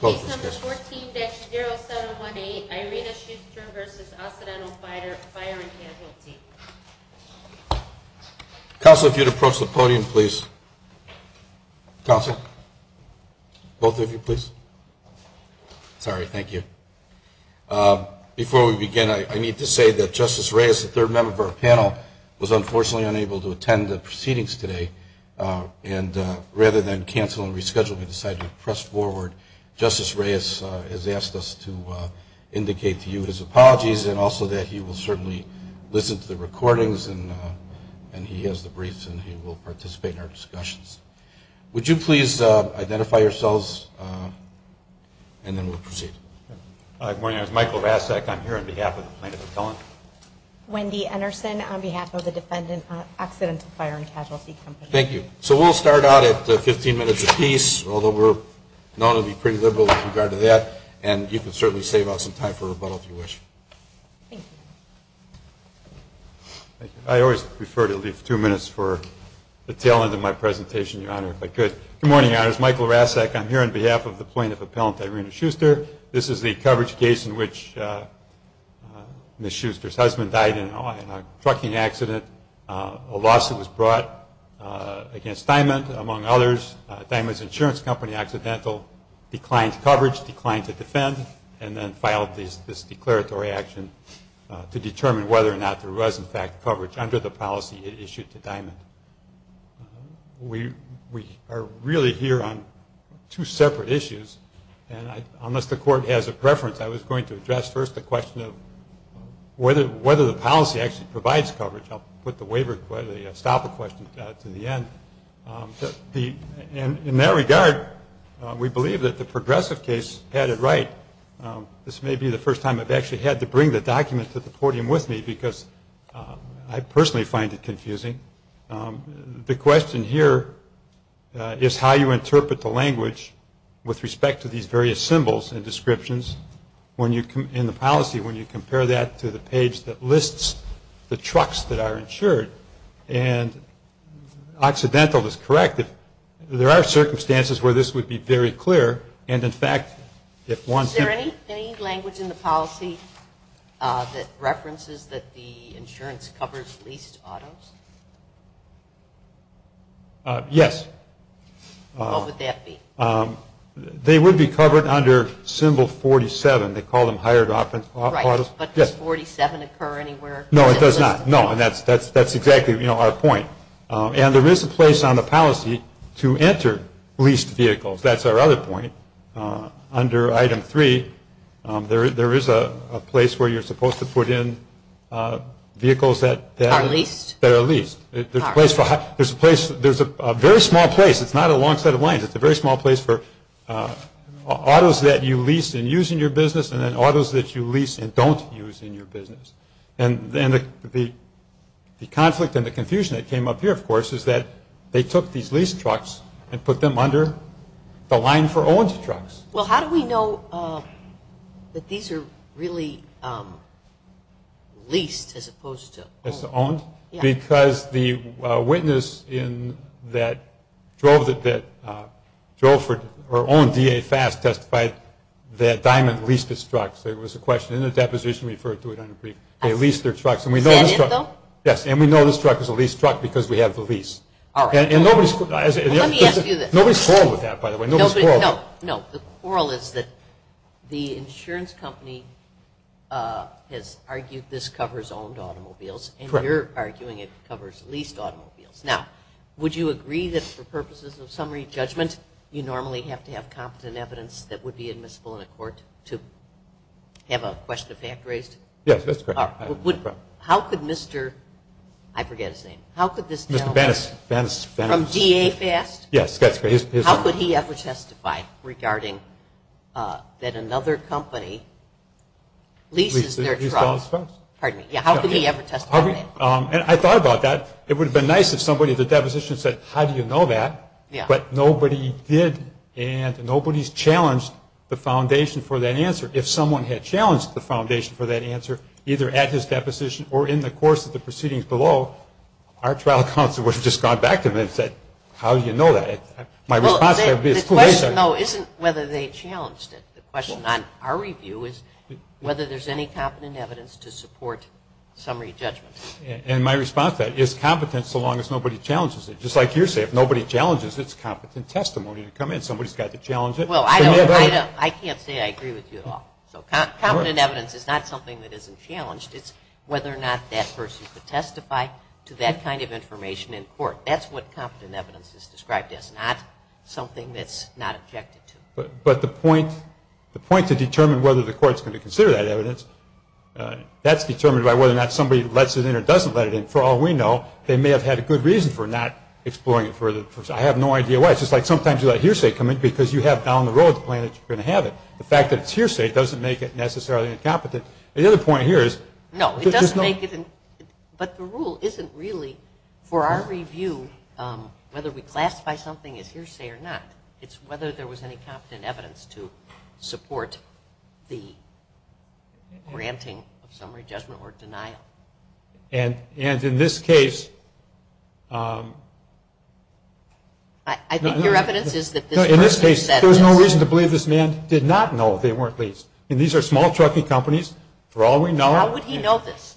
Case No. 14-0718, Irena Schuster v. Occidental Fire & Casualty. Counsel, if you'd approach the podium, please. Counsel? Both of you, please. Sorry, thank you. Before we begin, I need to say that Justice Reyes, the third member of our panel, was unfortunately unable to attend the proceedings today, and rather than cancel and reschedule, we decided to press forward. Justice Reyes has asked us to indicate to you his apologies, and also that he will certainly listen to the recordings, and he has the briefs, and he will participate in our discussions. Would you please identify yourselves, and then we'll proceed. Good morning. I'm Michael Vasak. I'm here on behalf of the plaintiff appellant. Wendy Anderson on behalf of the defendant, Occidental Fire & Casualty Company. Thank you. So we'll start out at 15 minutes apiece, although we're known to be pretty liberal with regard to that, and you can certainly save us some time for rebuttal if you wish. Thank you. I always prefer to leave two minutes for the tail end of my presentation, Your Honor, if I could. Good morning, Your Honors. Michael Vasak. I'm here on behalf of the plaintiff appellant, Irena Schuster. This is the coverage case in which Ms. Schuster's husband died in a trucking accident. A lawsuit was brought against Diamond, among others. Diamond's insurance company, Occidental, declined coverage, declined to defend, and then filed this declaratory action to determine whether or not there was, in fact, coverage under the policy it issued to Diamond. We are really here on two separate issues, and unless the Court has a preference, I was going to address first the question of whether the policy actually provides coverage. I'll put the stopper question to the end. In that regard, we believe that the progressive case had it right. This may be the first time I've actually had to bring the document to the podium with me because I personally find it confusing. The question here is how you interpret the language with respect to these various symbols and descriptions in the policy when you compare that to the page that lists the trucks that are insured. And Occidental is correct. There are circumstances where this would be very clear, and, in fact, if one- Is there any language in the policy that references that the insurance covers leased autos? Yes. What would that be? They would be covered under Symbol 47. They call them hired autos. But does 47 occur anywhere? No, it does not. No, and that's exactly our point. And there is a place on the policy to enter leased vehicles. That's our other point. Under Item 3, there is a place where you're supposed to put in vehicles that- Are leased? That are leased. There's a very small place. It's not a long set of lines. It's a very small place for autos that you lease and use in your business and then autos that you lease and don't use in your business. And the conflict and the confusion that came up here, of course, is that they took these leased trucks and put them under the line for owned trucks. Well, how do we know that these are really leased as opposed to owned? Because the witness that drove for or owned DA Fast testified that Diamond leased its trucks. There was a question in the deposition referred to it under brief. They leased their trucks. Is that it, though? Yes, and we know this truck is a leased truck because we have the lease. All right. Let me ask you this. Nobody's quarreled with that, by the way. Nobody's quarreled. No, the quarrel is that the insurance company has argued this covers owned automobiles and you're arguing it covers leased automobiles. Now, would you agree that for purposes of summary judgment, you normally have to have competent evidence that would be admissible in a court to have a question of fact raised? Yes, that's correct. How could Mr. – I forget his name. Mr. Bennis. From DA Fast? Yes, that's correct. How could he ever testify regarding that another company leases their trucks? Pardon me. How could he ever testify? I thought about that. It would have been nice if somebody at the deposition said, how do you know that, but nobody did, and nobody's challenged the foundation for that answer. If someone had challenged the foundation for that answer, either at his deposition or in the course of the proceedings below, our trial counsel would have just gone back to him and said, how do you know that? My response would have been, who is that? The question, though, isn't whether they challenged it. The question on our review is whether there's any competent evidence to support summary judgment. And my response to that is competent so long as nobody challenges it. Just like you say, if nobody challenges it, it's competent testimony to come in. Somebody's got to challenge it. I can't say I agree with you at all. So competent evidence is not something that isn't challenged. It's whether or not that person could testify to that kind of information in court. That's what competent evidence is described as, not something that's not objected to. But the point to determine whether the court's going to consider that evidence, that's determined by whether or not somebody lets it in or doesn't let it in. For all we know, they may have had a good reason for not exploring it further. I have no idea why. It's just like sometimes you let hearsay come in because you have down the road the plan that you're going to have it. The fact that it's hearsay doesn't make it necessarily incompetent. The other point here is no, it doesn't make it. But the rule isn't really, for our review, whether we classify something as hearsay or not. It's whether there was any competent evidence to support the granting of summary judgment or denial. And in this case, I think your evidence is that this person said this. No, in this case, there was no reason to believe this man did not know they weren't leased. I mean, these are small trucking companies. For all we know, How would he know this?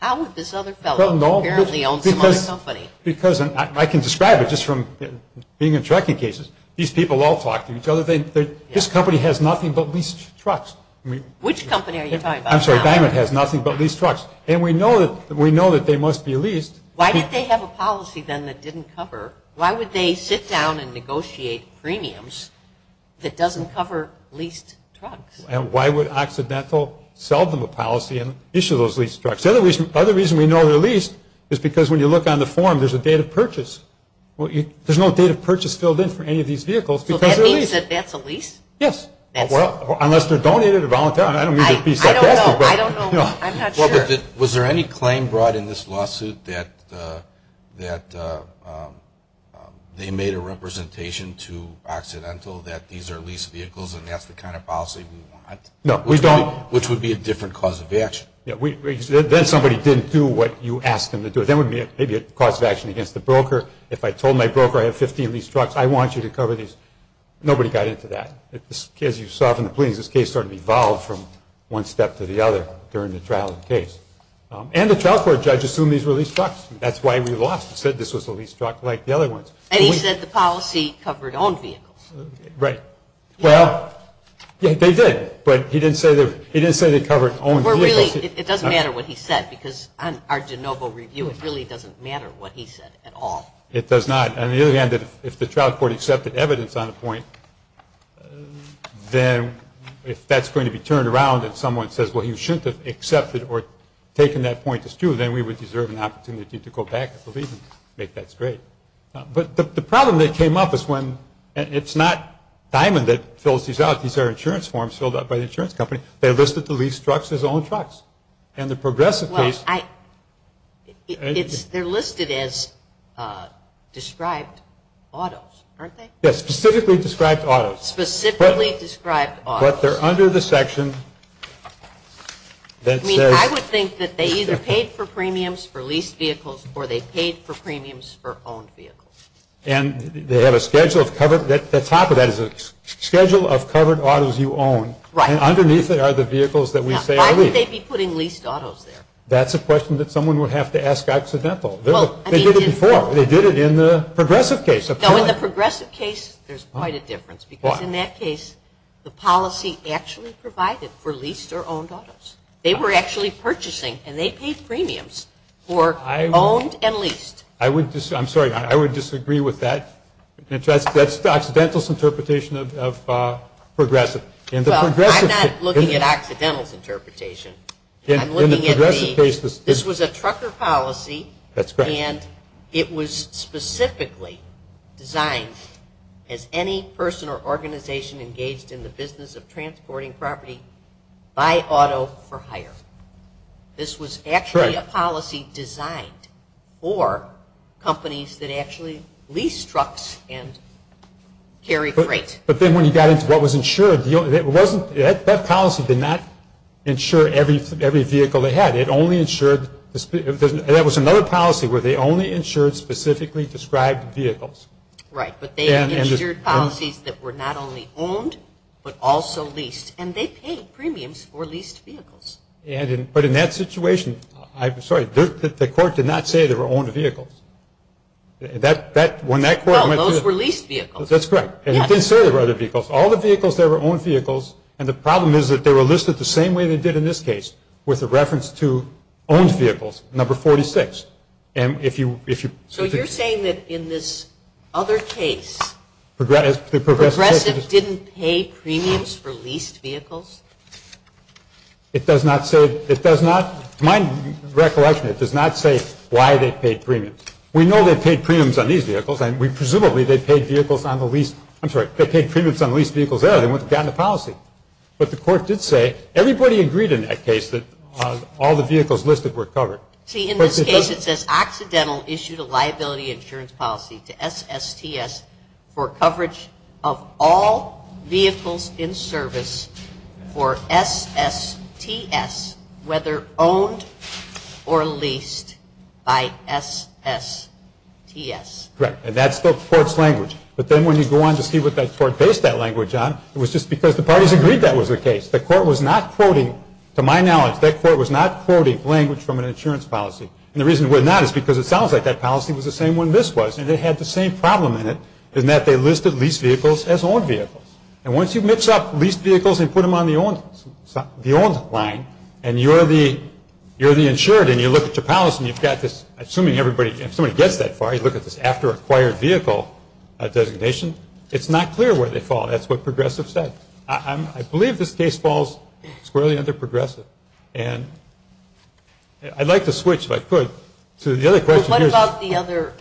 How would this other fellow who apparently owns some other company? Because I can describe it just from being in trucking cases. These people all talk to each other. This company has nothing but leased trucks. Which company are you talking about? I'm sorry, Diamond has nothing but leased trucks. And we know that they must be leased. Why did they have a policy then that didn't cover? Why would they sit down and negotiate premiums that doesn't cover leased trucks? And why would Occidental sell them a policy and issue those leased trucks? The other reason we know they're leased is because when you look on the form, there's a date of purchase. There's no date of purchase filled in for any of these vehicles because they're leased. So that means that that's a lease? Yes. Unless they're donated or voluntary. I don't mean to be sarcastic. I don't know. I'm not sure. Was there any claim brought in this lawsuit that they made a representation to Occidental that these are leased vehicles and that's the kind of policy we want? No, we don't. Which would be a different cause of action. Then somebody didn't do what you asked them to do. Then it would be maybe a cause of action against the broker. If I told my broker I have 15 leased trucks, I want you to cover these. Nobody got into that. As you saw from the pleadings, this case started to evolve from one step to the other during the trial of the case. And the trial court judge assumed these were leased trucks. That's why we lost. We said this was a leased truck like the other ones. And he said the policy covered owned vehicles. Right. Well, they did. But he didn't say they covered owned vehicles. It doesn't matter what he said because on our de novo review, it really doesn't matter what he said at all. It does not. On the other hand, if the trial court accepted evidence on a point, then if that's going to be turned around and someone says, well, you shouldn't have accepted or taken that point as true, then we would deserve an opportunity to go back and make that straight. But the problem that came up is when it's not Diamond that fills these out. These are insurance forms filled out by the insurance company. They listed the leased trucks as owned trucks. And the progressive case. They're listed as described autos, aren't they? Yes, specifically described autos. Specifically described autos. But they're under the section that says. I would think that they either paid for premiums for leased vehicles or they paid for premiums for owned vehicles. And they have a schedule of covered. The top of that is a schedule of covered autos you own. And underneath there are the vehicles that we say are leased. Now, why would they be putting leased autos there? That's a question that someone would have to ask accidental. They did it before. They did it in the progressive case. No, in the progressive case, there's quite a difference. Why? Because in that case, the policy actually provided for leased or owned autos. They were actually purchasing. And they paid premiums for owned and leased. I'm sorry. I would disagree with that. That's the accidental's interpretation of progressive. Well, I'm not looking at accidental's interpretation. I'm looking at the. In the progressive case. This was a trucker policy. That's correct. And it was specifically designed as any person or organization engaged in the business of transporting property buy auto for hire. This was actually a policy designed for companies that actually lease trucks and carry freight. But then when you got into what was insured, that policy did not insure every vehicle they had. It only insured. That was another policy where they only insured specifically described vehicles. Right. But they insured policies that were not only owned but also leased. And they paid premiums for leased vehicles. But in that situation, I'm sorry, the court did not say they were owned vehicles. When that court went to. Well, those were leased vehicles. That's correct. And it didn't say they were other vehicles. All the vehicles, they were owned vehicles. And the problem is that they were listed the same way they did in this case with a reference to owned vehicles, number 46. And if you. So you're saying that in this other case, progressive didn't pay premiums for leased vehicles? It does not say. It does not. To my recollection, it does not say why they paid premiums. We know they paid premiums on these vehicles. And presumably they paid vehicles on the leased. I'm sorry. They paid premiums on leased vehicles there. They wouldn't have gotten a policy. But the court did say everybody agreed in that case that all the vehicles listed were covered. See, in this case it says accidental issued a liability insurance policy to SSTS for coverage of all vehicles in service for SSTS whether owned or leased by SSTS. Correct. And that's the court's language. But then when you go on to see what that court based that language on, it was just because the parties agreed that was the case. The court was not quoting, to my knowledge, that court was not quoting language from an insurance policy. And the reason it was not is because it sounds like that policy was the same when this was. And it had the same problem in it in that they listed leased vehicles as owned vehicles. And once you mix up leased vehicles and put them on the owned line and you're the insured and you look at your policy and you've got this, assuming everybody, if somebody gets that far, you look at this after acquired vehicle designation, it's not clear where they fall. That's what Progressive said. I believe this case falls squarely under Progressive. And I'd like to switch, if I could, to the other question here. What about the other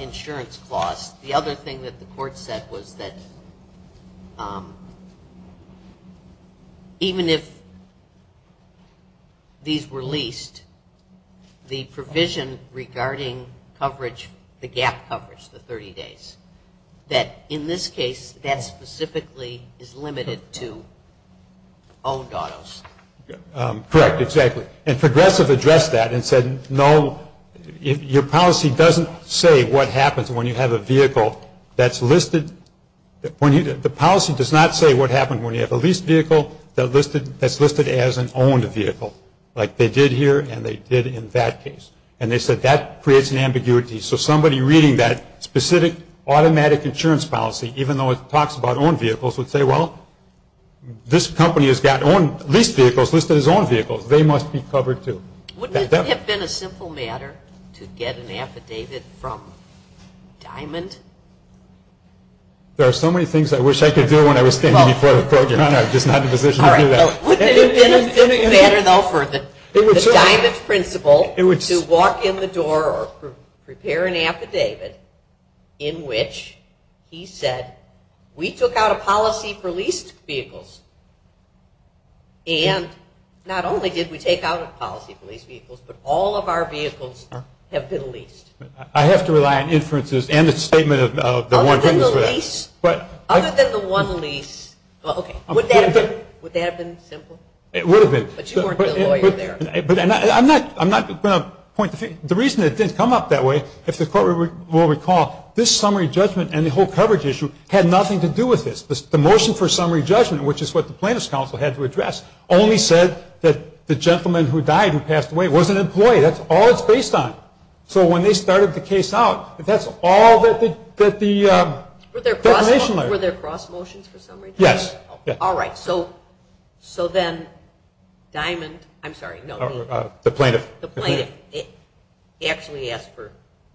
insurance clause? The other thing that the court said was that even if these were leased, the provision regarding coverage, the gap coverage, the 30 days, that in this case that specifically is limited to owned autos. Correct, exactly. And Progressive addressed that and said, no, your policy doesn't say what happens when you have a vehicle that's listed when you the policy does not say what happens when you have a leased vehicle that's listed as an owned vehicle. Like they did here and they did in that case. And they said that creates an ambiguity. So somebody reading that specific automatic insurance policy, even though it talks about owned vehicles, would say, well, this company has got leased vehicles listed as owned vehicles. They must be covered too. Wouldn't it have been a simple matter to get an affidavit from Diamond? There are so many things I wish I could do when I was standing before the court, Your Honor. I'm just not in a position to do that. Wouldn't it have been a simple matter, though, for the Diamond principal to walk in the door or prepare an affidavit in which he said, we took out a policy for leased vehicles. And not only did we take out a policy for leased vehicles, but all of our vehicles have been leased. I have to rely on inferences and a statement of the one thing. Other than the lease. Other than the one lease. Okay. Would that have been simple? It would have been. But you weren't the lawyer there. I'm not going to point the finger. The reason it didn't come up that way, if the court will recall, this summary judgment and the whole coverage issue had nothing to do with this. The motion for summary judgment, which is what the plaintiff's counsel had to address, only said that the gentleman who died and passed away was an employee. That's all it's based on. So when they started the case out, that's all that the defamation lawyer asked for. Were there cross motions for summary judgment? Yes. All right. So then Diamond, I'm sorry, no. The plaintiff. The plaintiff actually asked for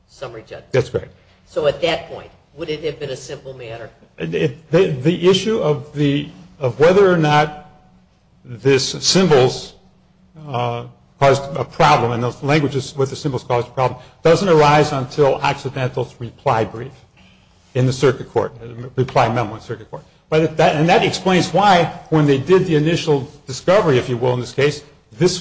summary judgment. That's correct. So at that point, would it have been a simple matter? The issue of whether or not this symbols caused a problem, and those languages with the symbols caused the problem, doesn't arise until accidental reply brief in the circuit court, reply memo in the circuit court. And that explains why when they did the initial discovery, if you will, in this case,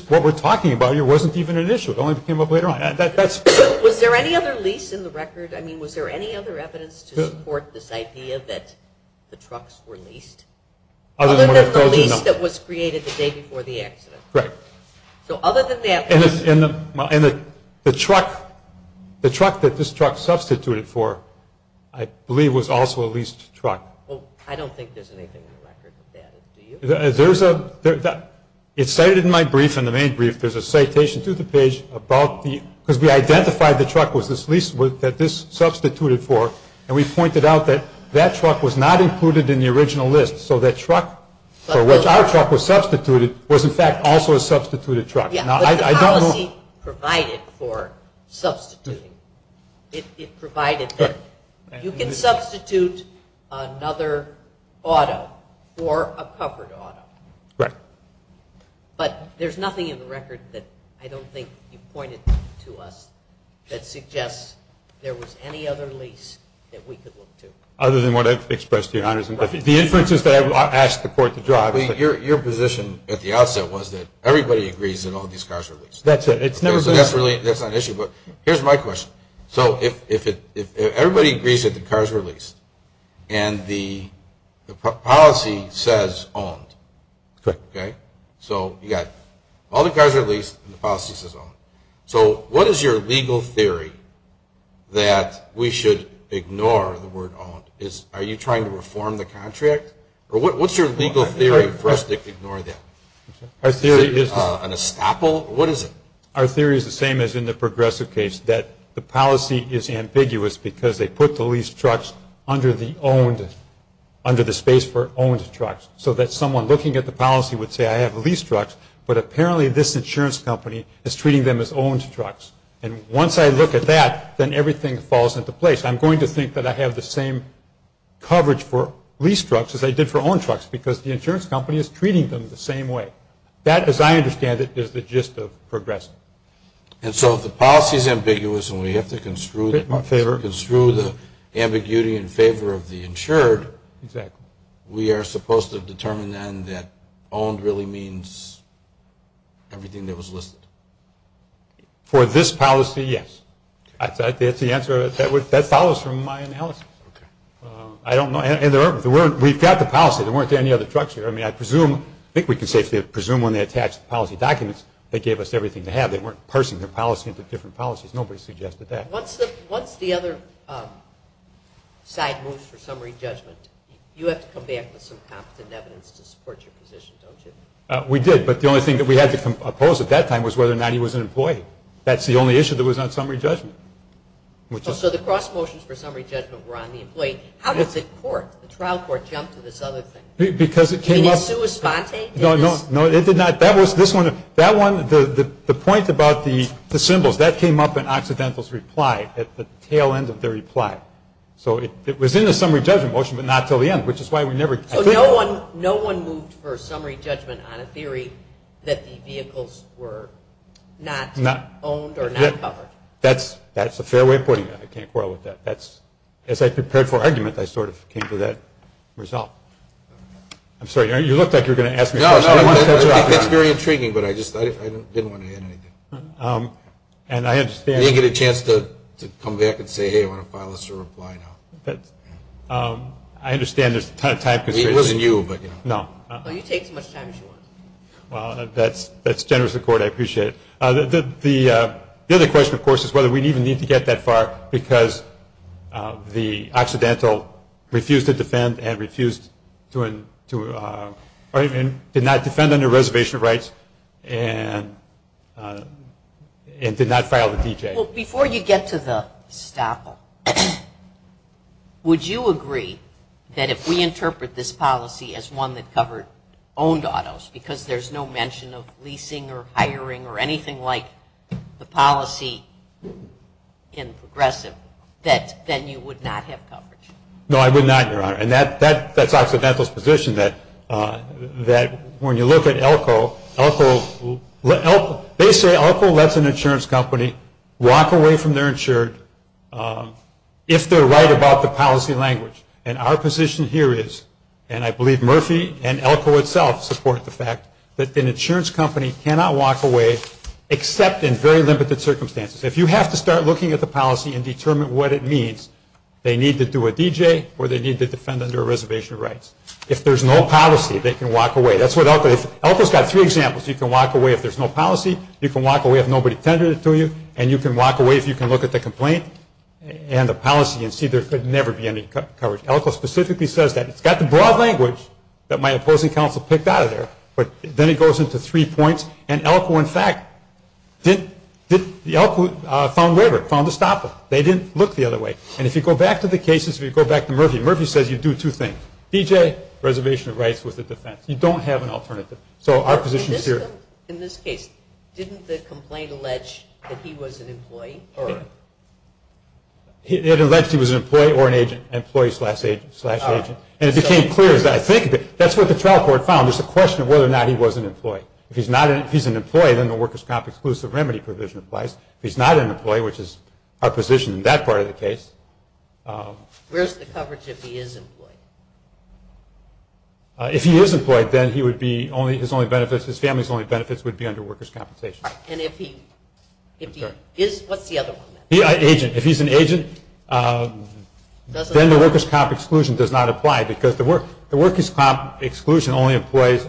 what we're talking about here wasn't even an issue. It only came up later on. Was there any other lease in the record? I mean, was there any other evidence to support this idea that the trucks were leased? Other than the lease that was created the day before the accident. Right. So other than that. And the truck that this truck substituted for, I believe, was also a leased truck. Well, I don't think there's anything in the record that added to you. There's a – it's cited in my brief, in the main brief, there's a citation to the page about the – because we identified the truck was this lease that this substituted for, and we pointed out that that truck was not included in the original list. So that truck for which our truck was substituted was, in fact, also a substituted truck. Yeah, but the policy provided for substituting. It provided that you can substitute another auto for a covered auto. Right. But there's nothing in the record that I don't think you pointed to us that suggests there was any other lease that we could look to. Other than what I've expressed to you, Your Honor. The inferences that I've asked the court to draw. Your position at the outset was that everybody agrees that all these cars are leased. That's it. That's not an issue. But here's my question. So if everybody agrees that the cars are leased and the policy says owned. Correct. Okay? So you've got all the cars are leased and the policy says owned. So what is your legal theory that we should ignore the word owned? Are you trying to reform the contract? Or what's your legal theory for us to ignore that? Is it an estoppel? What is it? Our theory is the same as in the progressive case, that the policy is ambiguous because they put the leased trucks under the owned, under the space for owned trucks, so that someone looking at the policy would say I have leased trucks, but apparently this insurance company is treating them as owned trucks. And once I look at that, then everything falls into place. I'm going to think that I have the same coverage for leased trucks as I did for owned trucks because the insurance company is treating them the same way. That, as I understand it, is the gist of progressive. And so if the policy is ambiguous and we have to construe the ambiguity in favor of the insured, we are supposed to determine then that owned really means everything that was listed? For this policy, yes. That's the answer. That follows from my analysis. I don't know. We've got the policy. There weren't any other trucks here. I mean, I presume, I think we can safely presume when they attached the policy documents, they gave us everything to have. They weren't parsing their policy into different policies. Nobody suggested that. Once the other side moves for summary judgment, you have to come back with some competent evidence to support your position, don't you? But the only thing that we had to compose at that time was whether or not he was an employee. That's the only issue that was on summary judgment. So the cross motions for summary judgment were on the employee. How does the court, the trial court, jump to this other thing? Because it came up. You mean it's sui sponte? No, it did not. That was this one. That one, the point about the symbols, that came up in Occidental's reply, at the tail end of the reply. So it was in the summary judgment motion but not until the end, which is why we never. So no one moved for summary judgment on a theory that the vehicles were not owned or not covered? That's a fair way of putting it. I can't quarrel with that. As I prepared for argument, I sort of came to that result. I'm sorry. You looked like you were going to ask me a question. That's very intriguing, but I just didn't want to add anything. And I understand. You didn't get a chance to come back and say, hey, I want to file this reply now. I understand there's a ton of time constraints. It wasn't you, but, you know. No. You take as much time as you want. Well, that's generous of the court. I appreciate it. The other question, of course, is whether we even need to get that far because the Occidental refused to defend and did not defend under reservation rights and did not file the D.J. Well, before you get to the estoppel, would you agree that if we interpret this policy as one that covered owned autos because there's no mention of leasing or hiring or anything like the policy in progressive, that then you would not have coverage? No, I would not, Your Honor. And that's Occidental's position that when you look at ELCO, they say ELCO lets an insurance company walk away from their insured if they're right about the policy language. And our position here is, and I believe Murphy and ELCO itself support the fact, that an insurance company cannot walk away except in very limited circumstances. If you have to start looking at the policy and determine what it means, they need to do a D.J. or they need to defend under reservation rights. If there's no policy, they can walk away. That's what ELCO says. ELCO's got three examples. You can walk away if there's no policy, you can walk away if nobody tendered it to you, and you can walk away if you can look at the complaint and the policy and see there could never be any coverage. ELCO specifically says that. It's got the broad language that my opposing counsel picked out of there, but then it goes into three points. And ELCO, in fact, found waiver, found estoppel. They didn't look the other way. And if you go back to the cases, if you go back to Murphy, Murphy says you do two things. D.J., reservation of rights with the defense. You don't have an alternative. So our position is here. In this case, didn't the complaint allege that he was an employee? It alleged he was an employee or an agent, employee slash agent. And it became clear, as I think of it, that's what the trial court found. It's a question of whether or not he was an employee. If he's an employee, then the workers' comp exclusive remedy provision applies. If he's not an employee, which is our position in that part of the case. Where's the coverage if he is an employee? If he is employed, then he would be only, his only benefits, his family's only benefits would be under workers' compensation. And if he is, what's the other one? Agent. If he's an agent, then the workers' comp exclusion does not apply, because the workers' comp exclusion only applies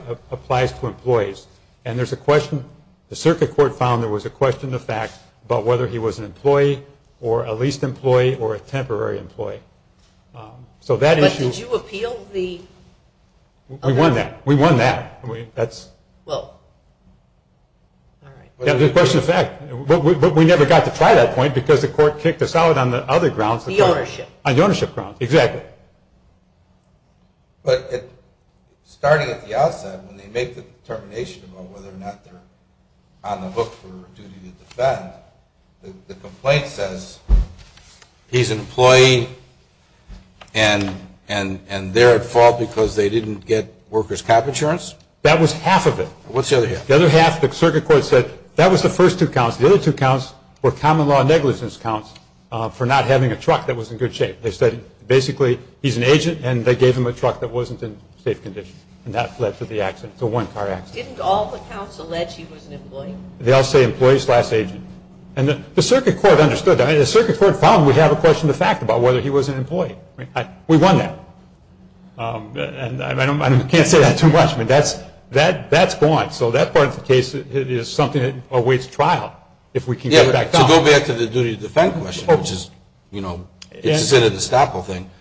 to employees. And there's a question, the circuit court found there was a question of fact about whether he was an employee or a leased employee or a temporary employee. So that issue. But did you appeal the? We won that. We won that. That's. Well, all right. Yeah, the question of fact. But we never got to try that point, because the court kicked us out on the other grounds. The ownership. On the ownership grounds, exactly. But starting at the outset, when they make the determination about whether or not they're on the hook for duty to defend, the complaint says, he's an employee, and they're at fault because they didn't get workers' comp insurance. That was half of it. What's the other half? The other half, the circuit court said, that was the first two counts. The other two counts were common law negligence counts for not having a truck that was in good shape. They said, basically, he's an agent, and they gave him a truck that wasn't in safe condition. And that led to the accident, the one-car accident. Didn't all the counts allege he was an employee? They all say employee slash agent. And the circuit court understood that. The circuit court found we have a question of fact about whether he was an employee. We won that. And I can't say that too much. That's gone. So that part of the case is something that awaits trial, if we can get it back down. To go back to the duty to defend question, which is, you know, it's a cynical thing.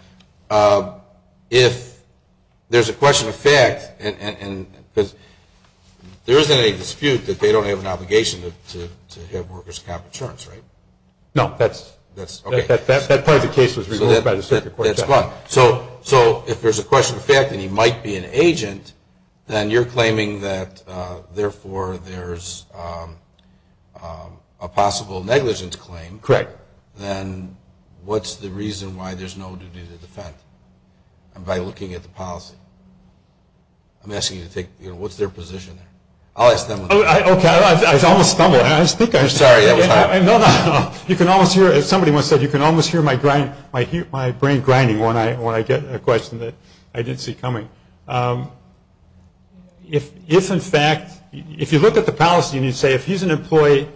If there's a question of fact, because there isn't any dispute that they don't have an obligation to have workers' comp insurance, right? No. That part of the case was removed by the circuit court. So if there's a question of fact and he might be an agent, then you're claiming that therefore there's a possible negligence claim. Correct. Then what's the reason why there's no duty to defend? By looking at the policy. I'm asking you to take, you know, what's their position there? I'll ask them. Okay. I almost stumbled. I'm sorry. No, no. You can almost hear it. Somebody once said you can almost hear my brain grinding when I get a question that I didn't see coming. If, in fact, if you look at the policy and you say if he's an employee,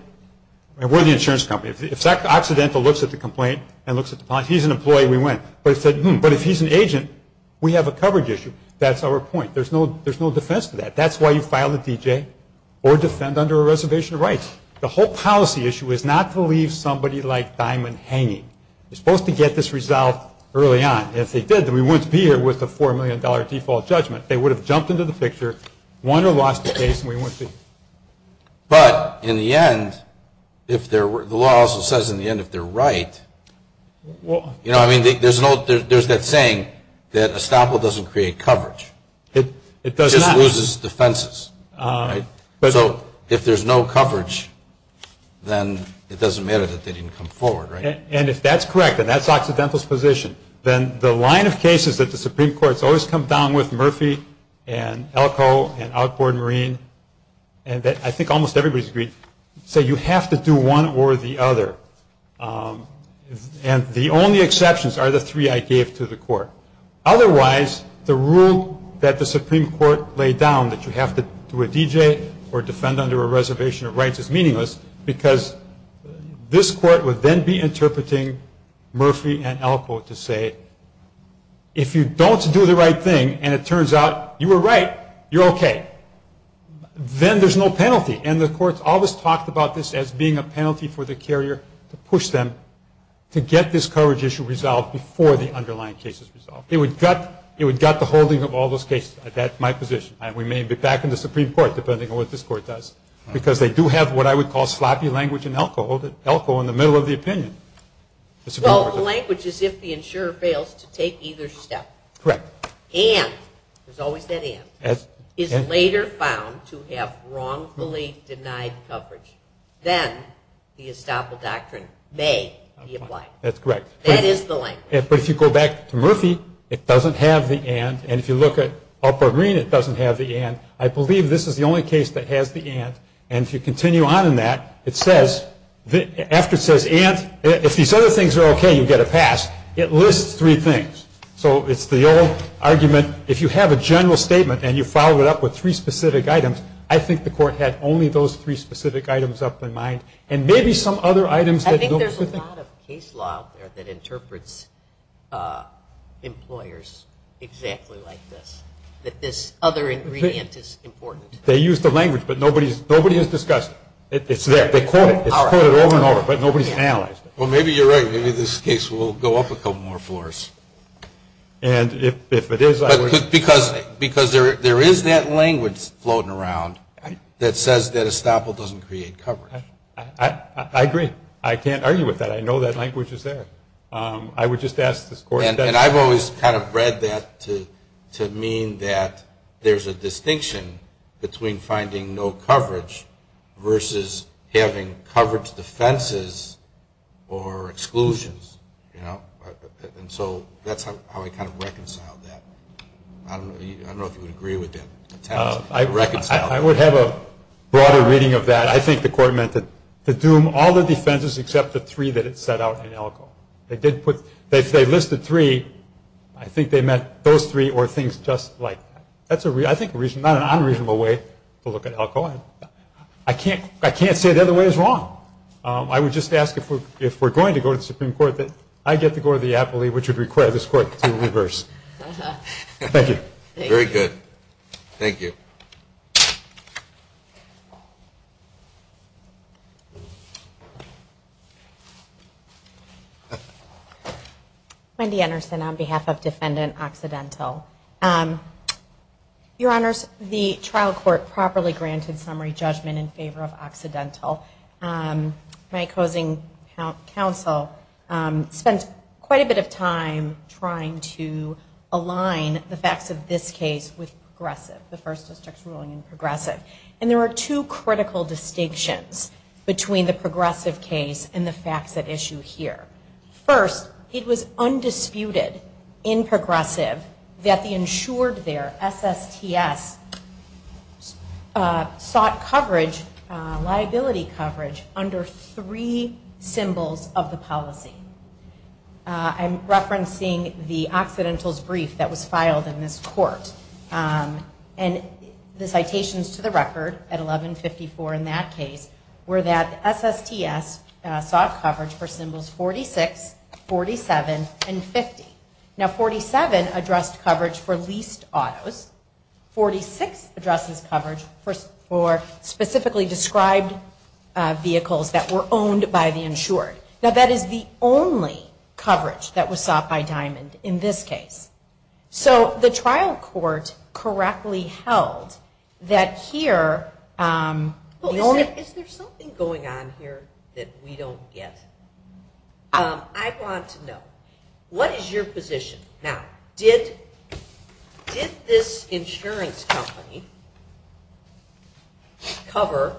and we're the insurance company, if Zach Occidental looks at the complaint and looks at the policy, he's an employee, we win. But if he's an agent, we have a coverage issue. That's our point. There's no defense to that. That's why you file a D.J. or defend under a reservation of rights. The whole policy issue is not to leave somebody like Diamond hanging. They're supposed to get this resolved early on. If they did, then we wouldn't be here with a $4 million default judgment. They would have jumped into the picture, won or lost the case, and we wouldn't be here. But in the end, the law also says in the end if they're right, you know what I mean? There's that saying that estoppel doesn't create coverage. It just loses defenses. So if there's no coverage, then it doesn't matter that they didn't come forward, right? And if that's correct and that's Occidental's position, then the line of cases that the Supreme Court has always come down with, Murphy and Elko and Outboard Marine, and I think almost everybody's agreed, say you have to do one or the other. And the only exceptions are the three I gave to the court. Otherwise, the rule that the Supreme Court laid down that you have to do a D.J. or defend under a reservation of rights is meaningless because this court would then be interpreting Murphy and Elko to say, if you don't do the right thing and it turns out you were right, you're okay, then there's no penalty. And the courts always talked about this as being a penalty for the carrier to push them to get this coverage issue resolved before the underlying case is resolved. It would gut the holding of all those cases. That's my position. We may be back in the Supreme Court, depending on what this court does, because they do have what I would call sloppy language in Elko, Elko in the middle of the opinion. Well, the language is if the insurer fails to take either step. Correct. And, there's always that and, is later found to have wrongfully denied coverage. Then the estoppel doctrine may be applied. That's correct. That is the language. But if you go back to Murphy, it doesn't have the and. And if you look at Elko Green, it doesn't have the and. I believe this is the only case that has the and. And if you continue on in that, it says, after it says and, if these other things are okay, you get a pass. It lists three things. So, it's the old argument, if you have a general statement, and you follow it up with three specific items, I think the court had only those three specific items up in mind. And maybe some other items. I think there's a lot of case law out there that interprets employers exactly like this. That this other ingredient is important. They use the language, but nobody has discussed it. It's there. They quote it. It's quoted over and over, but nobody's analyzed it. Well, maybe you're right. Maybe this case will go up a couple more floors. And if it is, I would. Because there is that language floating around that says that estoppel doesn't create coverage. I agree. I can't argue with that. I know that language is there. I would just ask this court. And I've always kind of read that to mean that there's a distinction between finding no coverage versus having coverage defenses or exclusions. And so that's how I kind of reconciled that. I don't know if you would agree with that. I would have a broader reading of that. I think the court meant to doom all the defenses except the three that it set out in ELCO. If they listed three, I think they meant those three or things just like that. I think that's not an unreasonable way to look at ELCO. I can't say the other way is wrong. I would just ask if we're going to go to the Supreme Court that I get to go to the appellee, which would require this court to reverse. Thank you. Very good. Thank you. Wendy Anderson on behalf of Defendant Occidental. Your Honors, the trial court properly granted summary judgment in favor of Occidental. My opposing counsel spent quite a bit of time trying to align the facts of this case with Progressive, the First District's ruling in Progressive. And there are two critical distinctions between the Progressive case and the facts at issue here. First, it was undisputed in Progressive that the insured there, SSTS, sought coverage, liability coverage, under three symbols of the policy. I'm referencing the Occidental's brief that was filed in this court. And the citations to the record at 1154 in that case were that SSTS sought coverage for symbols 46, 47, and 50. Now, 47 addressed coverage for leased autos. 46 addresses coverage for specifically described vehicles that were owned by the insured. Now, that is the only coverage that was sought by Diamond in this case. So the trial court correctly held that here the only... Is there something going on here that we don't get? I want to know, what is your position? Now, did this insurance company cover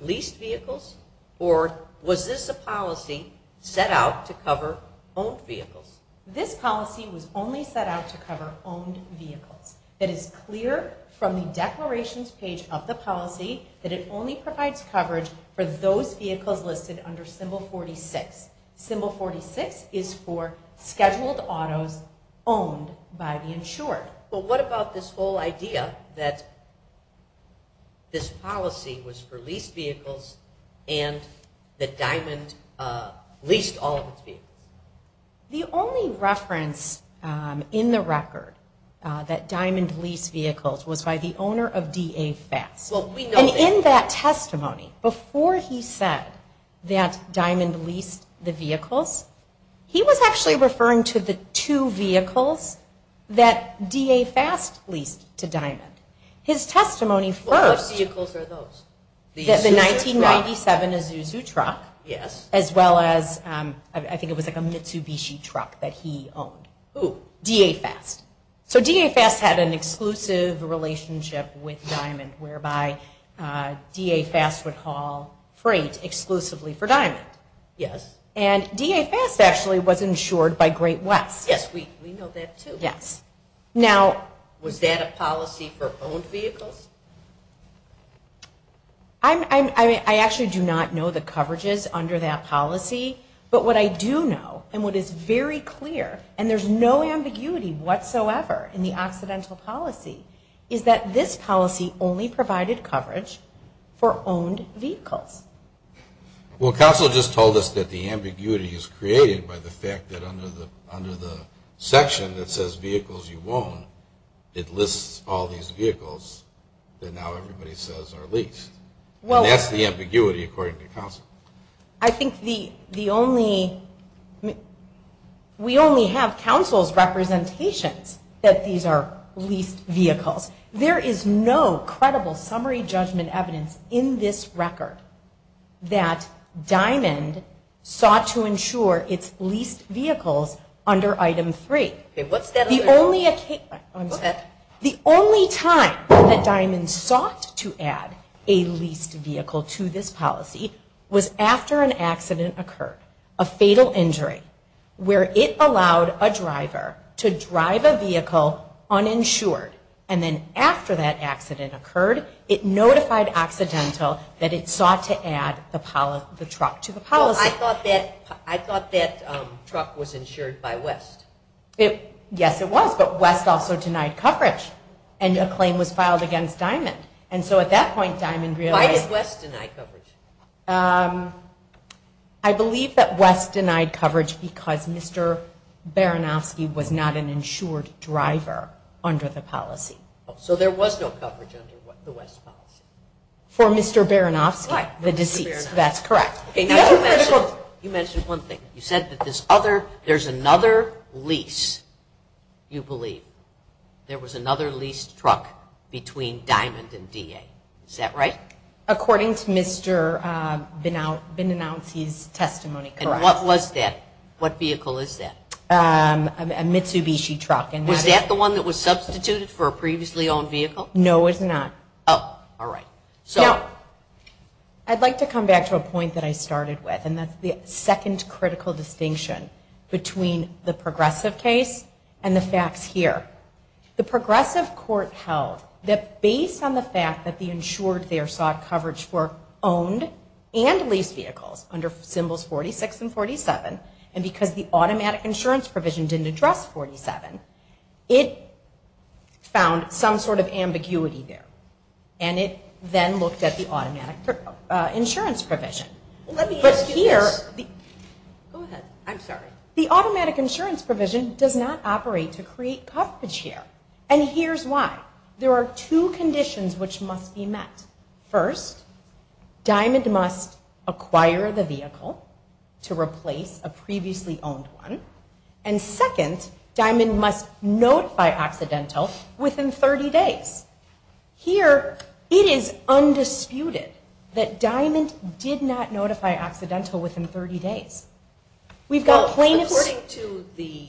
leased vehicles? Or was this a policy set out to cover owned vehicles? This policy was only set out to cover owned vehicles. It is clear from the declarations page of the policy that it only provides coverage for those vehicles listed under symbol 46. Symbol 46 is for scheduled autos owned by the insured. But what about this whole idea that this policy was for leased vehicles and that Diamond leased all of its vehicles? The only reference in the record that Diamond leased vehicles was by the owner of DA Fast. And in that testimony, before he said that Diamond leased the vehicles, he was actually referring to the two vehicles that DA Fast leased to Diamond. His testimony first... What vehicles are those? The 1997 Isuzu truck, as well as, I think it was like a Mitsubishi truck that he owned. Who? DA Fast. So DA Fast had an exclusive relationship with Diamond whereby DA Fast would haul freight exclusively for Diamond. Yes. And DA Fast actually was insured by Great West. Yes, we know that too. Yes. Now... Was that a policy for owned vehicles? I actually do not know the coverages under that policy. But what I do know, and what is very clear, and there's no ambiguity whatsoever in the Occidental policy, is that this policy only provided coverage for owned vehicles. Well, counsel just told us that the ambiguity is created by the fact that under the section that says vehicles you own, it lists all these vehicles that now everybody says are leased. And that's the ambiguity, according to counsel. I think the only... We only have counsel's representations that these are leased vehicles. There is no credible summary judgment evidence in this record that Diamond sought to insure its leased vehicles under Item 3. What's that? Go ahead. The only time that Diamond sought to add a leased vehicle to this policy was after an accident occurred, a fatal injury, where it allowed a driver to drive a vehicle uninsured. And then after that accident occurred, it notified Occidental that it sought to add the truck to the policy. Well, I thought that truck was insured by West. Yes, it was, but West also denied coverage, and a claim was filed against Diamond. And so at that point, Diamond realized... Why did West deny coverage? I believe that West denied coverage because Mr. Baranofsky was not an insured driver under the policy. So there was no coverage under the West policy? For Mr. Baranofsky, the deceased, that's correct. You mentioned one thing. You said that there's another lease, you believe. There was another leased truck between Diamond and DA. Is that right? According to Mr. Benouncey's testimony, correct. And what was that? What vehicle is that? A Mitsubishi truck. Was that the one that was substituted for a previously owned vehicle? No, it's not. Oh, all right. Now, I'd like to come back to a point that I started with, and that's the second critical distinction between the progressive case and the facts here. The progressive court held that based on the fact that the insured there sought coverage for owned and leased vehicles under Symbols 46 and 47, and because the automatic insurance provision didn't address 47, it found some sort of ambiguity there. And it then looked at the automatic insurance provision. Let me ask you this. Go ahead. I'm sorry. The automatic insurance provision does not operate to create coverage here, and here's why. There are two conditions which must be met. First, Diamond must acquire the vehicle to replace a previously owned one, and second, Diamond must notify Occidental within 30 days. Here it is undisputed that Diamond did not notify Occidental within 30 days. According to the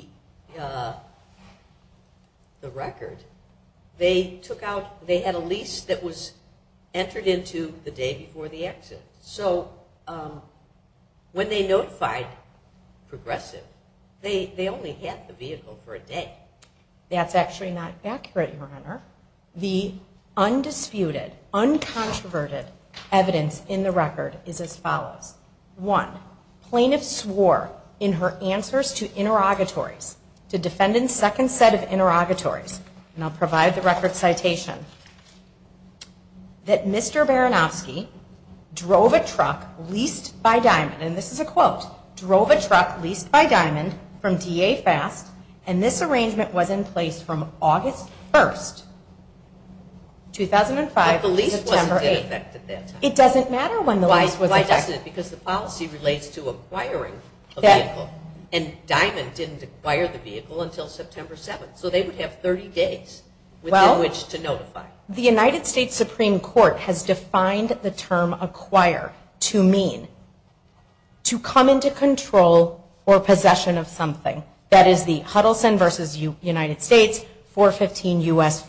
record, they had a lease that was entered into the day before the exit. So when they notified progressive, they only had the vehicle for a day. That's actually not accurate, Your Honor. The undisputed, uncontroverted evidence in the record is as follows. One, plaintiff swore in her answers to interrogatories, to defendants' second set of interrogatories, and I'll provide the record citation, that Mr. Baranowski drove a truck leased by Diamond, and this is a quote, drove a truck leased by Diamond from DA Fast, and this arrangement was in place from August 1st, 2005 to September 8th. But the lease wasn't in effect at that time. It doesn't matter when the lease was in effect. Why doesn't it, because the policy relates to acquiring a vehicle, and Diamond didn't acquire the vehicle until September 7th, so they would have 30 days within which to notify. The United States Supreme Court has defined the term acquire to mean to come into control or possession of something. That is the Huddleston v. United States, 415 U.S.,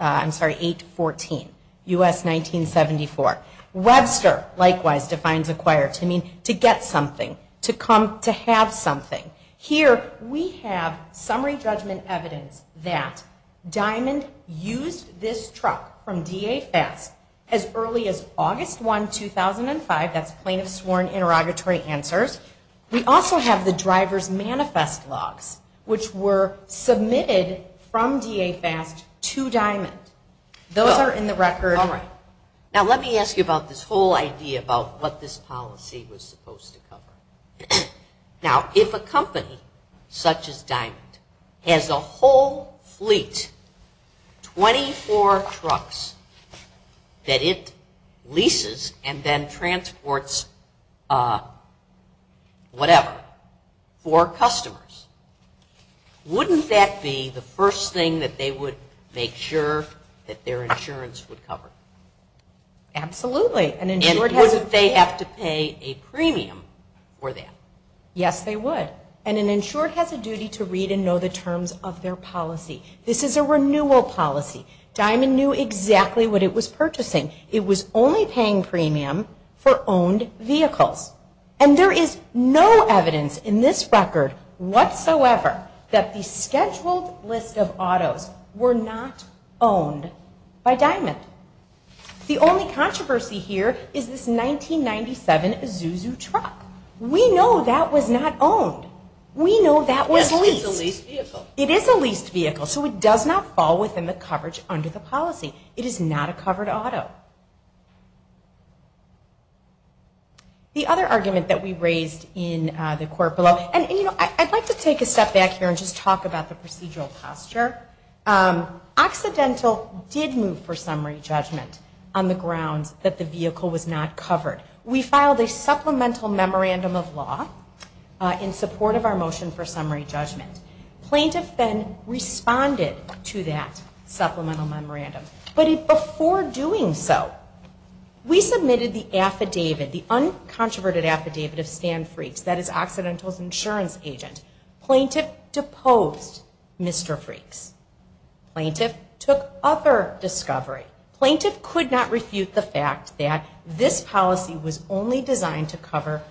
I'm sorry, 814 U.S., 1974. Webster, likewise, defines acquire to mean to get something, to come to have something. Here we have summary judgment evidence that Diamond used this truck from DA Fast as early as August 1, 2005. That's plaintiff sworn interrogatory answers. We also have the driver's manifest logs, which were submitted from DA Fast to Diamond. Those are in the record. Now let me ask you about this whole idea about what this policy was supposed to cover. Now if a company such as Diamond has a whole fleet, 24 trucks, that it leases and then transports whatever for customers, wouldn't that be the first thing that they would make sure that their insurance would cover? Absolutely. And wouldn't they have to pay a premium for that? Yes, they would. And an insured has a duty to read and know the terms of their policy. This is a renewal policy. Diamond knew exactly what it was purchasing. It was only paying premium for owned vehicles. And there is no evidence in this record whatsoever that the scheduled list of autos were not owned by Diamond. The only controversy here is this 1997 Isuzu truck. We know that was not owned. We know that was leased. It is a leased vehicle, so it does not fall within the coverage under the policy. It is not a covered auto. The other argument that we raised in the court below, and I'd like to take a step back here and just talk about the procedural posture. Occidental did move for summary judgment on the grounds that the vehicle was not covered. We filed a supplemental memorandum of law in support of our motion for summary judgment. Plaintiff then responded to that supplemental memorandum. But before doing so, we submitted the affidavit, the uncontroverted affidavit of Stan Freaks, that is Occidental's insurance agent. Plaintiff deposed Mr. Freaks. Plaintiff took other discovery. Plaintiff could not refute the fact that this policy was only designed to cover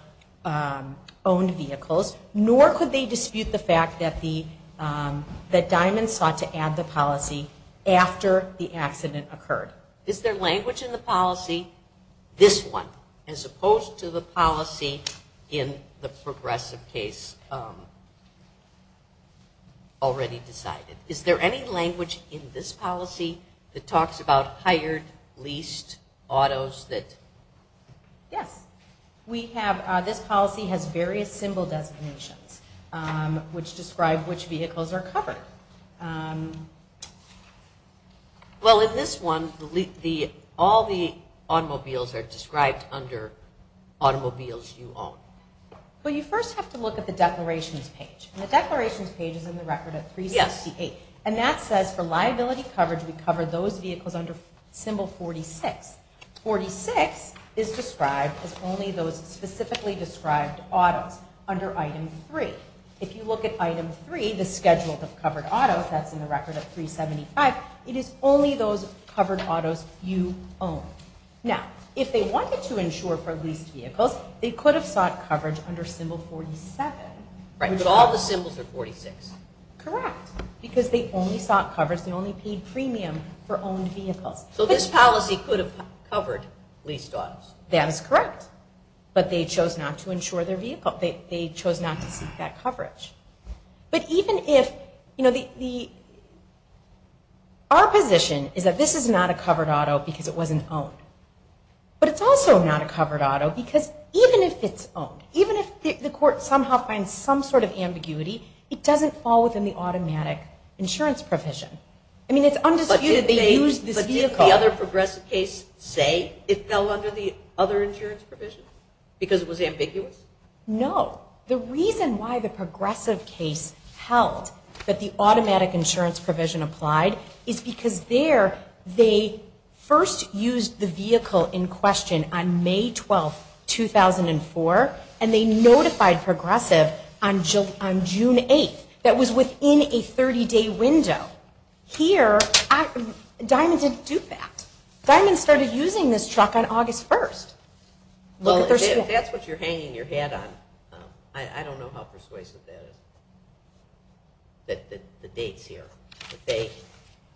owned vehicles, nor could they dispute the fact that Diamond sought to add the policy after the accident occurred. Is there language in the policy, this one, as opposed to the policy in the progressive case already decided? Is there any language in this policy that talks about hired, leased autos? Yes. This policy has various symbol designations which describe which vehicles are covered. Well, in this one, all the automobiles are described under automobiles you own. But you first have to look at the declarations page. The declarations page is in the record at 368. And that says for liability coverage, we covered those vehicles under symbol 46. 46 is described as only those specifically described autos under item 3. If you look at item 3, the schedule of covered autos, that's in the record at 375. It is only those covered autos you own. Now, if they wanted to insure for leased vehicles, they could have sought coverage under symbol 47. But all the symbols are 46. Correct. Because they only sought coverage, they only paid premium for owned vehicles. So this policy could have covered leased autos. That is correct. But they chose not to insure their vehicle. They chose not to seek that coverage. But even if, you know, our position is that this is not a covered auto because it wasn't owned. But it's also not a covered auto because even if it's owned, even if the court somehow finds some sort of ambiguity, it doesn't fall within the automatic insurance provision. I mean, it's undisputed they used this vehicle. Did the other progressive case say it fell under the other insurance provision because it was ambiguous? No. The reason why the progressive case held that the automatic insurance provision applied is because there they first used the vehicle in question on May 12, 2004, and they notified progressive on June 8th. That was within a 30-day window. Here, Diamond didn't do that. Diamond started using this truck on August 1st. Well, if that's what you're hanging your hat on, I don't know how persuasive that is, the dates here.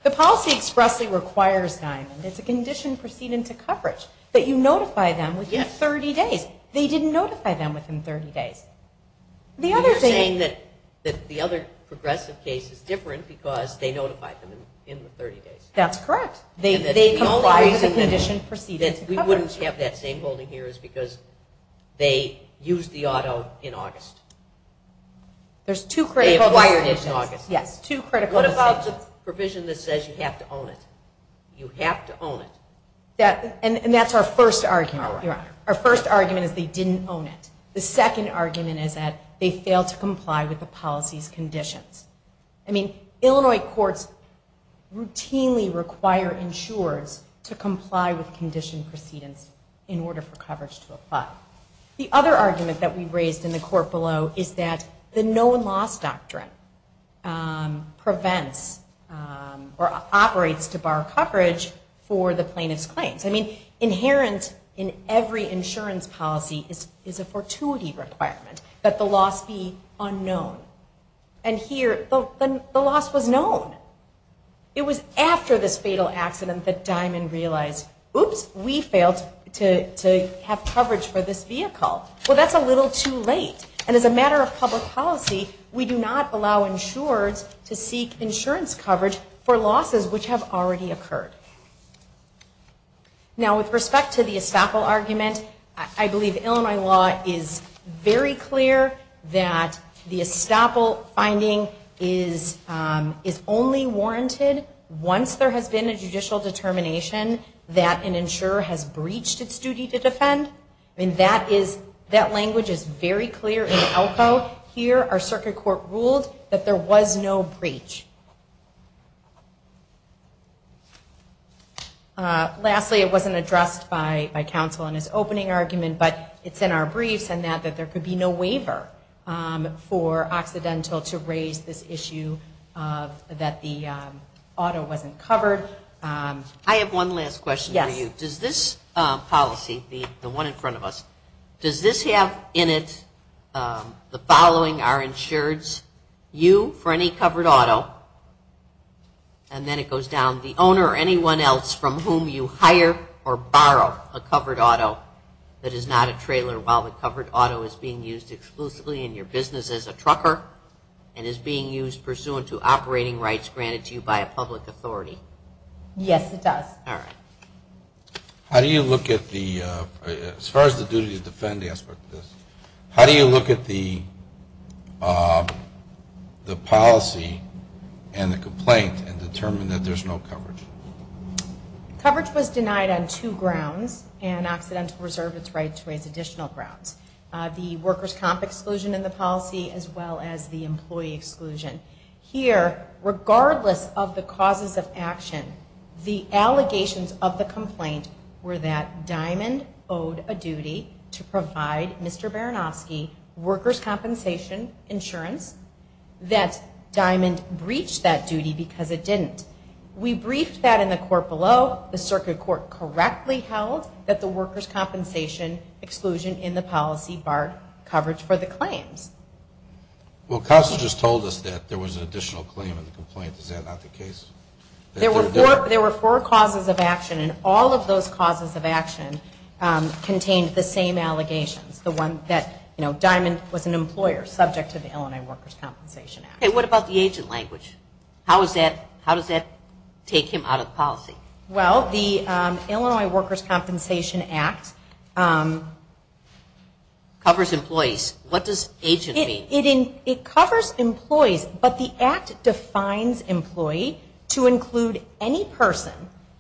The policy expressly requires Diamond, it's a condition proceeding to coverage, that you notify them within 30 days. They didn't notify them within 30 days. You're saying that the other progressive case is different because they notified them in the 30 days. That's correct. They complied with the condition proceeding to coverage. We wouldn't have that same holding here because they used the auto in August. They acquired it in August. Yes, two critical decisions. What about the provision that says you have to own it? You have to own it. And that's our first argument, Your Honor. Our first argument is they didn't own it. The second argument is that they failed to comply with the policy's conditions. Illinois courts routinely require insurers to comply with condition proceedings in order for coverage to apply. The other argument that we raised in the court below is that the no-loss doctrine prevents or operates to bar coverage for the plaintiff's claims. I mean, inherent in every insurance policy is a fortuity requirement. Let the loss be unknown. And here, the loss was known. It was after this fatal accident that Dimon realized, oops, we failed to have coverage for this vehicle. Well, that's a little too late. And as a matter of public policy, we do not allow insurers to seek insurance coverage for losses which have already occurred. Now, with respect to the estoppel argument, I believe Illinois law is very clear that the estoppel finding is only warranted once there has been a judicial determination that an insurer has breached its duty to defend. I mean, that language is very clear in Elko. Here, our circuit court ruled that there was no breach. Lastly, it wasn't addressed by counsel in his opening argument, but it's in our briefs, in that there could be no waiver for Occidental to raise this issue that the auto wasn't covered. I have one last question for you. Does this policy, the one in front of us, does this have in it the following are insureds, you for any covered auto, and then it goes down, the owner or anyone else from whom you hire or borrow a covered auto that is not a trailer while the covered auto is being used exclusively in your business as a trucker and is being used pursuant to operating rights granted to you by a public authority? Yes, it does. All right. How do you look at the, as far as the duty to defend aspect of this, how do you look at the policy and the complaint and determine that there's no coverage? Coverage was denied on two grounds, and Occidental reserved its right to raise additional grounds, the workers' comp exclusion in the policy as well as the employee exclusion. Here, regardless of the causes of action, the allegations of the complaint were that Diamond owed a duty to provide Mr. Baranofsky workers' compensation insurance, that Diamond breached that duty because it didn't. We briefed that in the court below. The circuit court correctly held that the workers' compensation exclusion in the policy barred coverage for the claims. Well, Counsel just told us that there was an additional claim in the complaint. Is that not the case? There were four causes of action, and all of those causes of action contained the same allegations, the one that Diamond was an employer subject to the Illinois Workers' Compensation Act. Okay. What about the agent language? How does that take him out of policy? Well, the Illinois Workers' Compensation Act covers employees. What does agent mean? It covers employees, but the act defines employee to include any person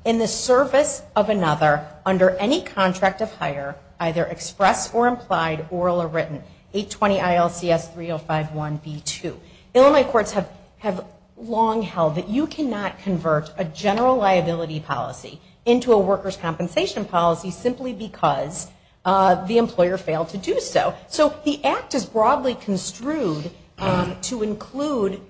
in the service of another under any contract of hire, either expressed or implied, oral or written, 820-ILCS-3051-B2. Illinois courts have long held that you cannot convert a general liability policy into a workers' compensation policy simply because the employer failed to do so. So the act is broadly construed to include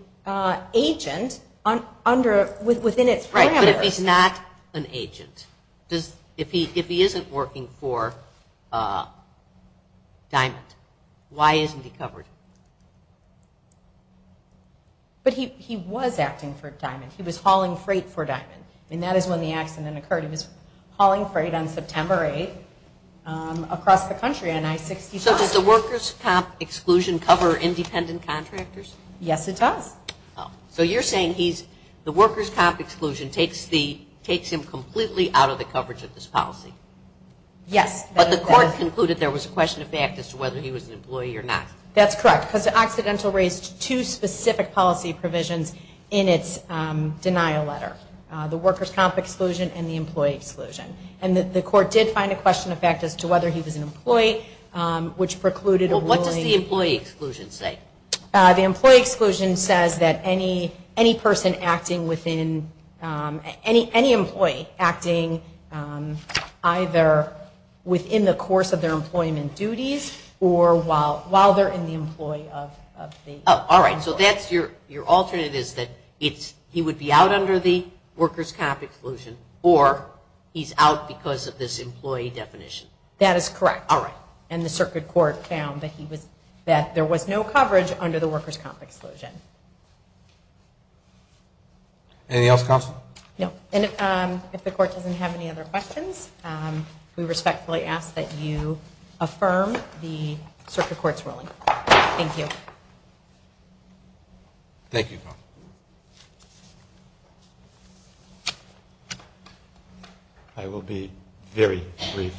agent within its parameters. Right, but if he's not an agent, if he isn't working for Diamond, why isn't he covered? But he was acting for Diamond. He was hauling freight for Diamond, and that is when the accident occurred. He was hauling freight on September 8th across the country on I-65. So does the workers' comp exclusion cover independent contractors? Yes, it does. So you're saying the workers' comp exclusion takes him completely out of the coverage of this policy? Yes. But the court concluded there was a question of fact as to whether he was an employee or not. That's correct, because the Occidental raised two specific policy provisions in its denial letter, the workers' comp exclusion and the employee exclusion. And the court did find a question of fact as to whether he was an employee, which precluded a ruling. Well, what does the employee exclusion say? The employee exclusion says that any person acting within, any employee acting either within the course of their employment duties or while they're in the employee of the employer. All right, so that's your alternate is that he would be out under the workers' comp exclusion or he's out because of this employee definition. That is correct. All right. And the circuit court found that there was no coverage under the workers' comp exclusion. Anything else, counsel? No. And if the court doesn't have any other questions, we respectfully ask that you affirm the circuit court's ruling. Thank you. Thank you, counsel. I will be very brief.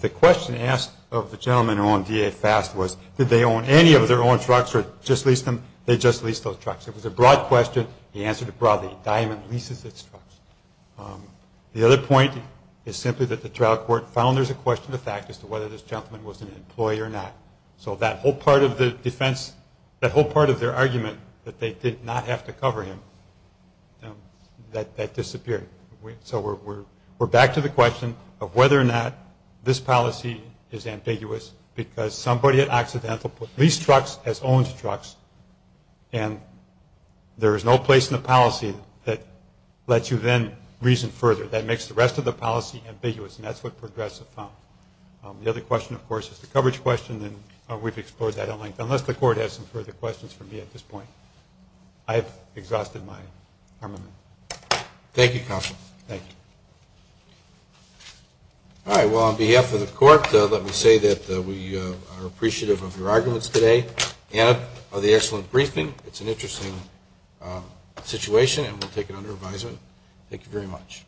The question asked of the gentleman who owned D.A. Fast was did they own any of their own trucks or just lease them? They just leased those trucks. It was a broad question. The answer to broadly, a diamond leases its trucks. The other point is simply that the trial court found there's a question of fact as to whether this gentleman was an employee or not. So that whole part of the defense, that whole part of their argument that they did not have to cover him, that disappeared. So we're back to the question of whether or not this policy is ambiguous because somebody at Occidental put leased trucks as owned trucks, and there is no place in the policy that lets you then reason further. That makes the rest of the policy ambiguous, and that's what Progressive found. The other question, of course, is the coverage question, and we've explored that at length, unless the court has some further questions for me at this point. I have exhausted my armament. Thank you, counsel. Thank you. All right, well, on behalf of the court, let me say that we are appreciative of your arguments today and of the excellent briefing. It's an interesting situation, and we'll take it under advisement. Thank you very much.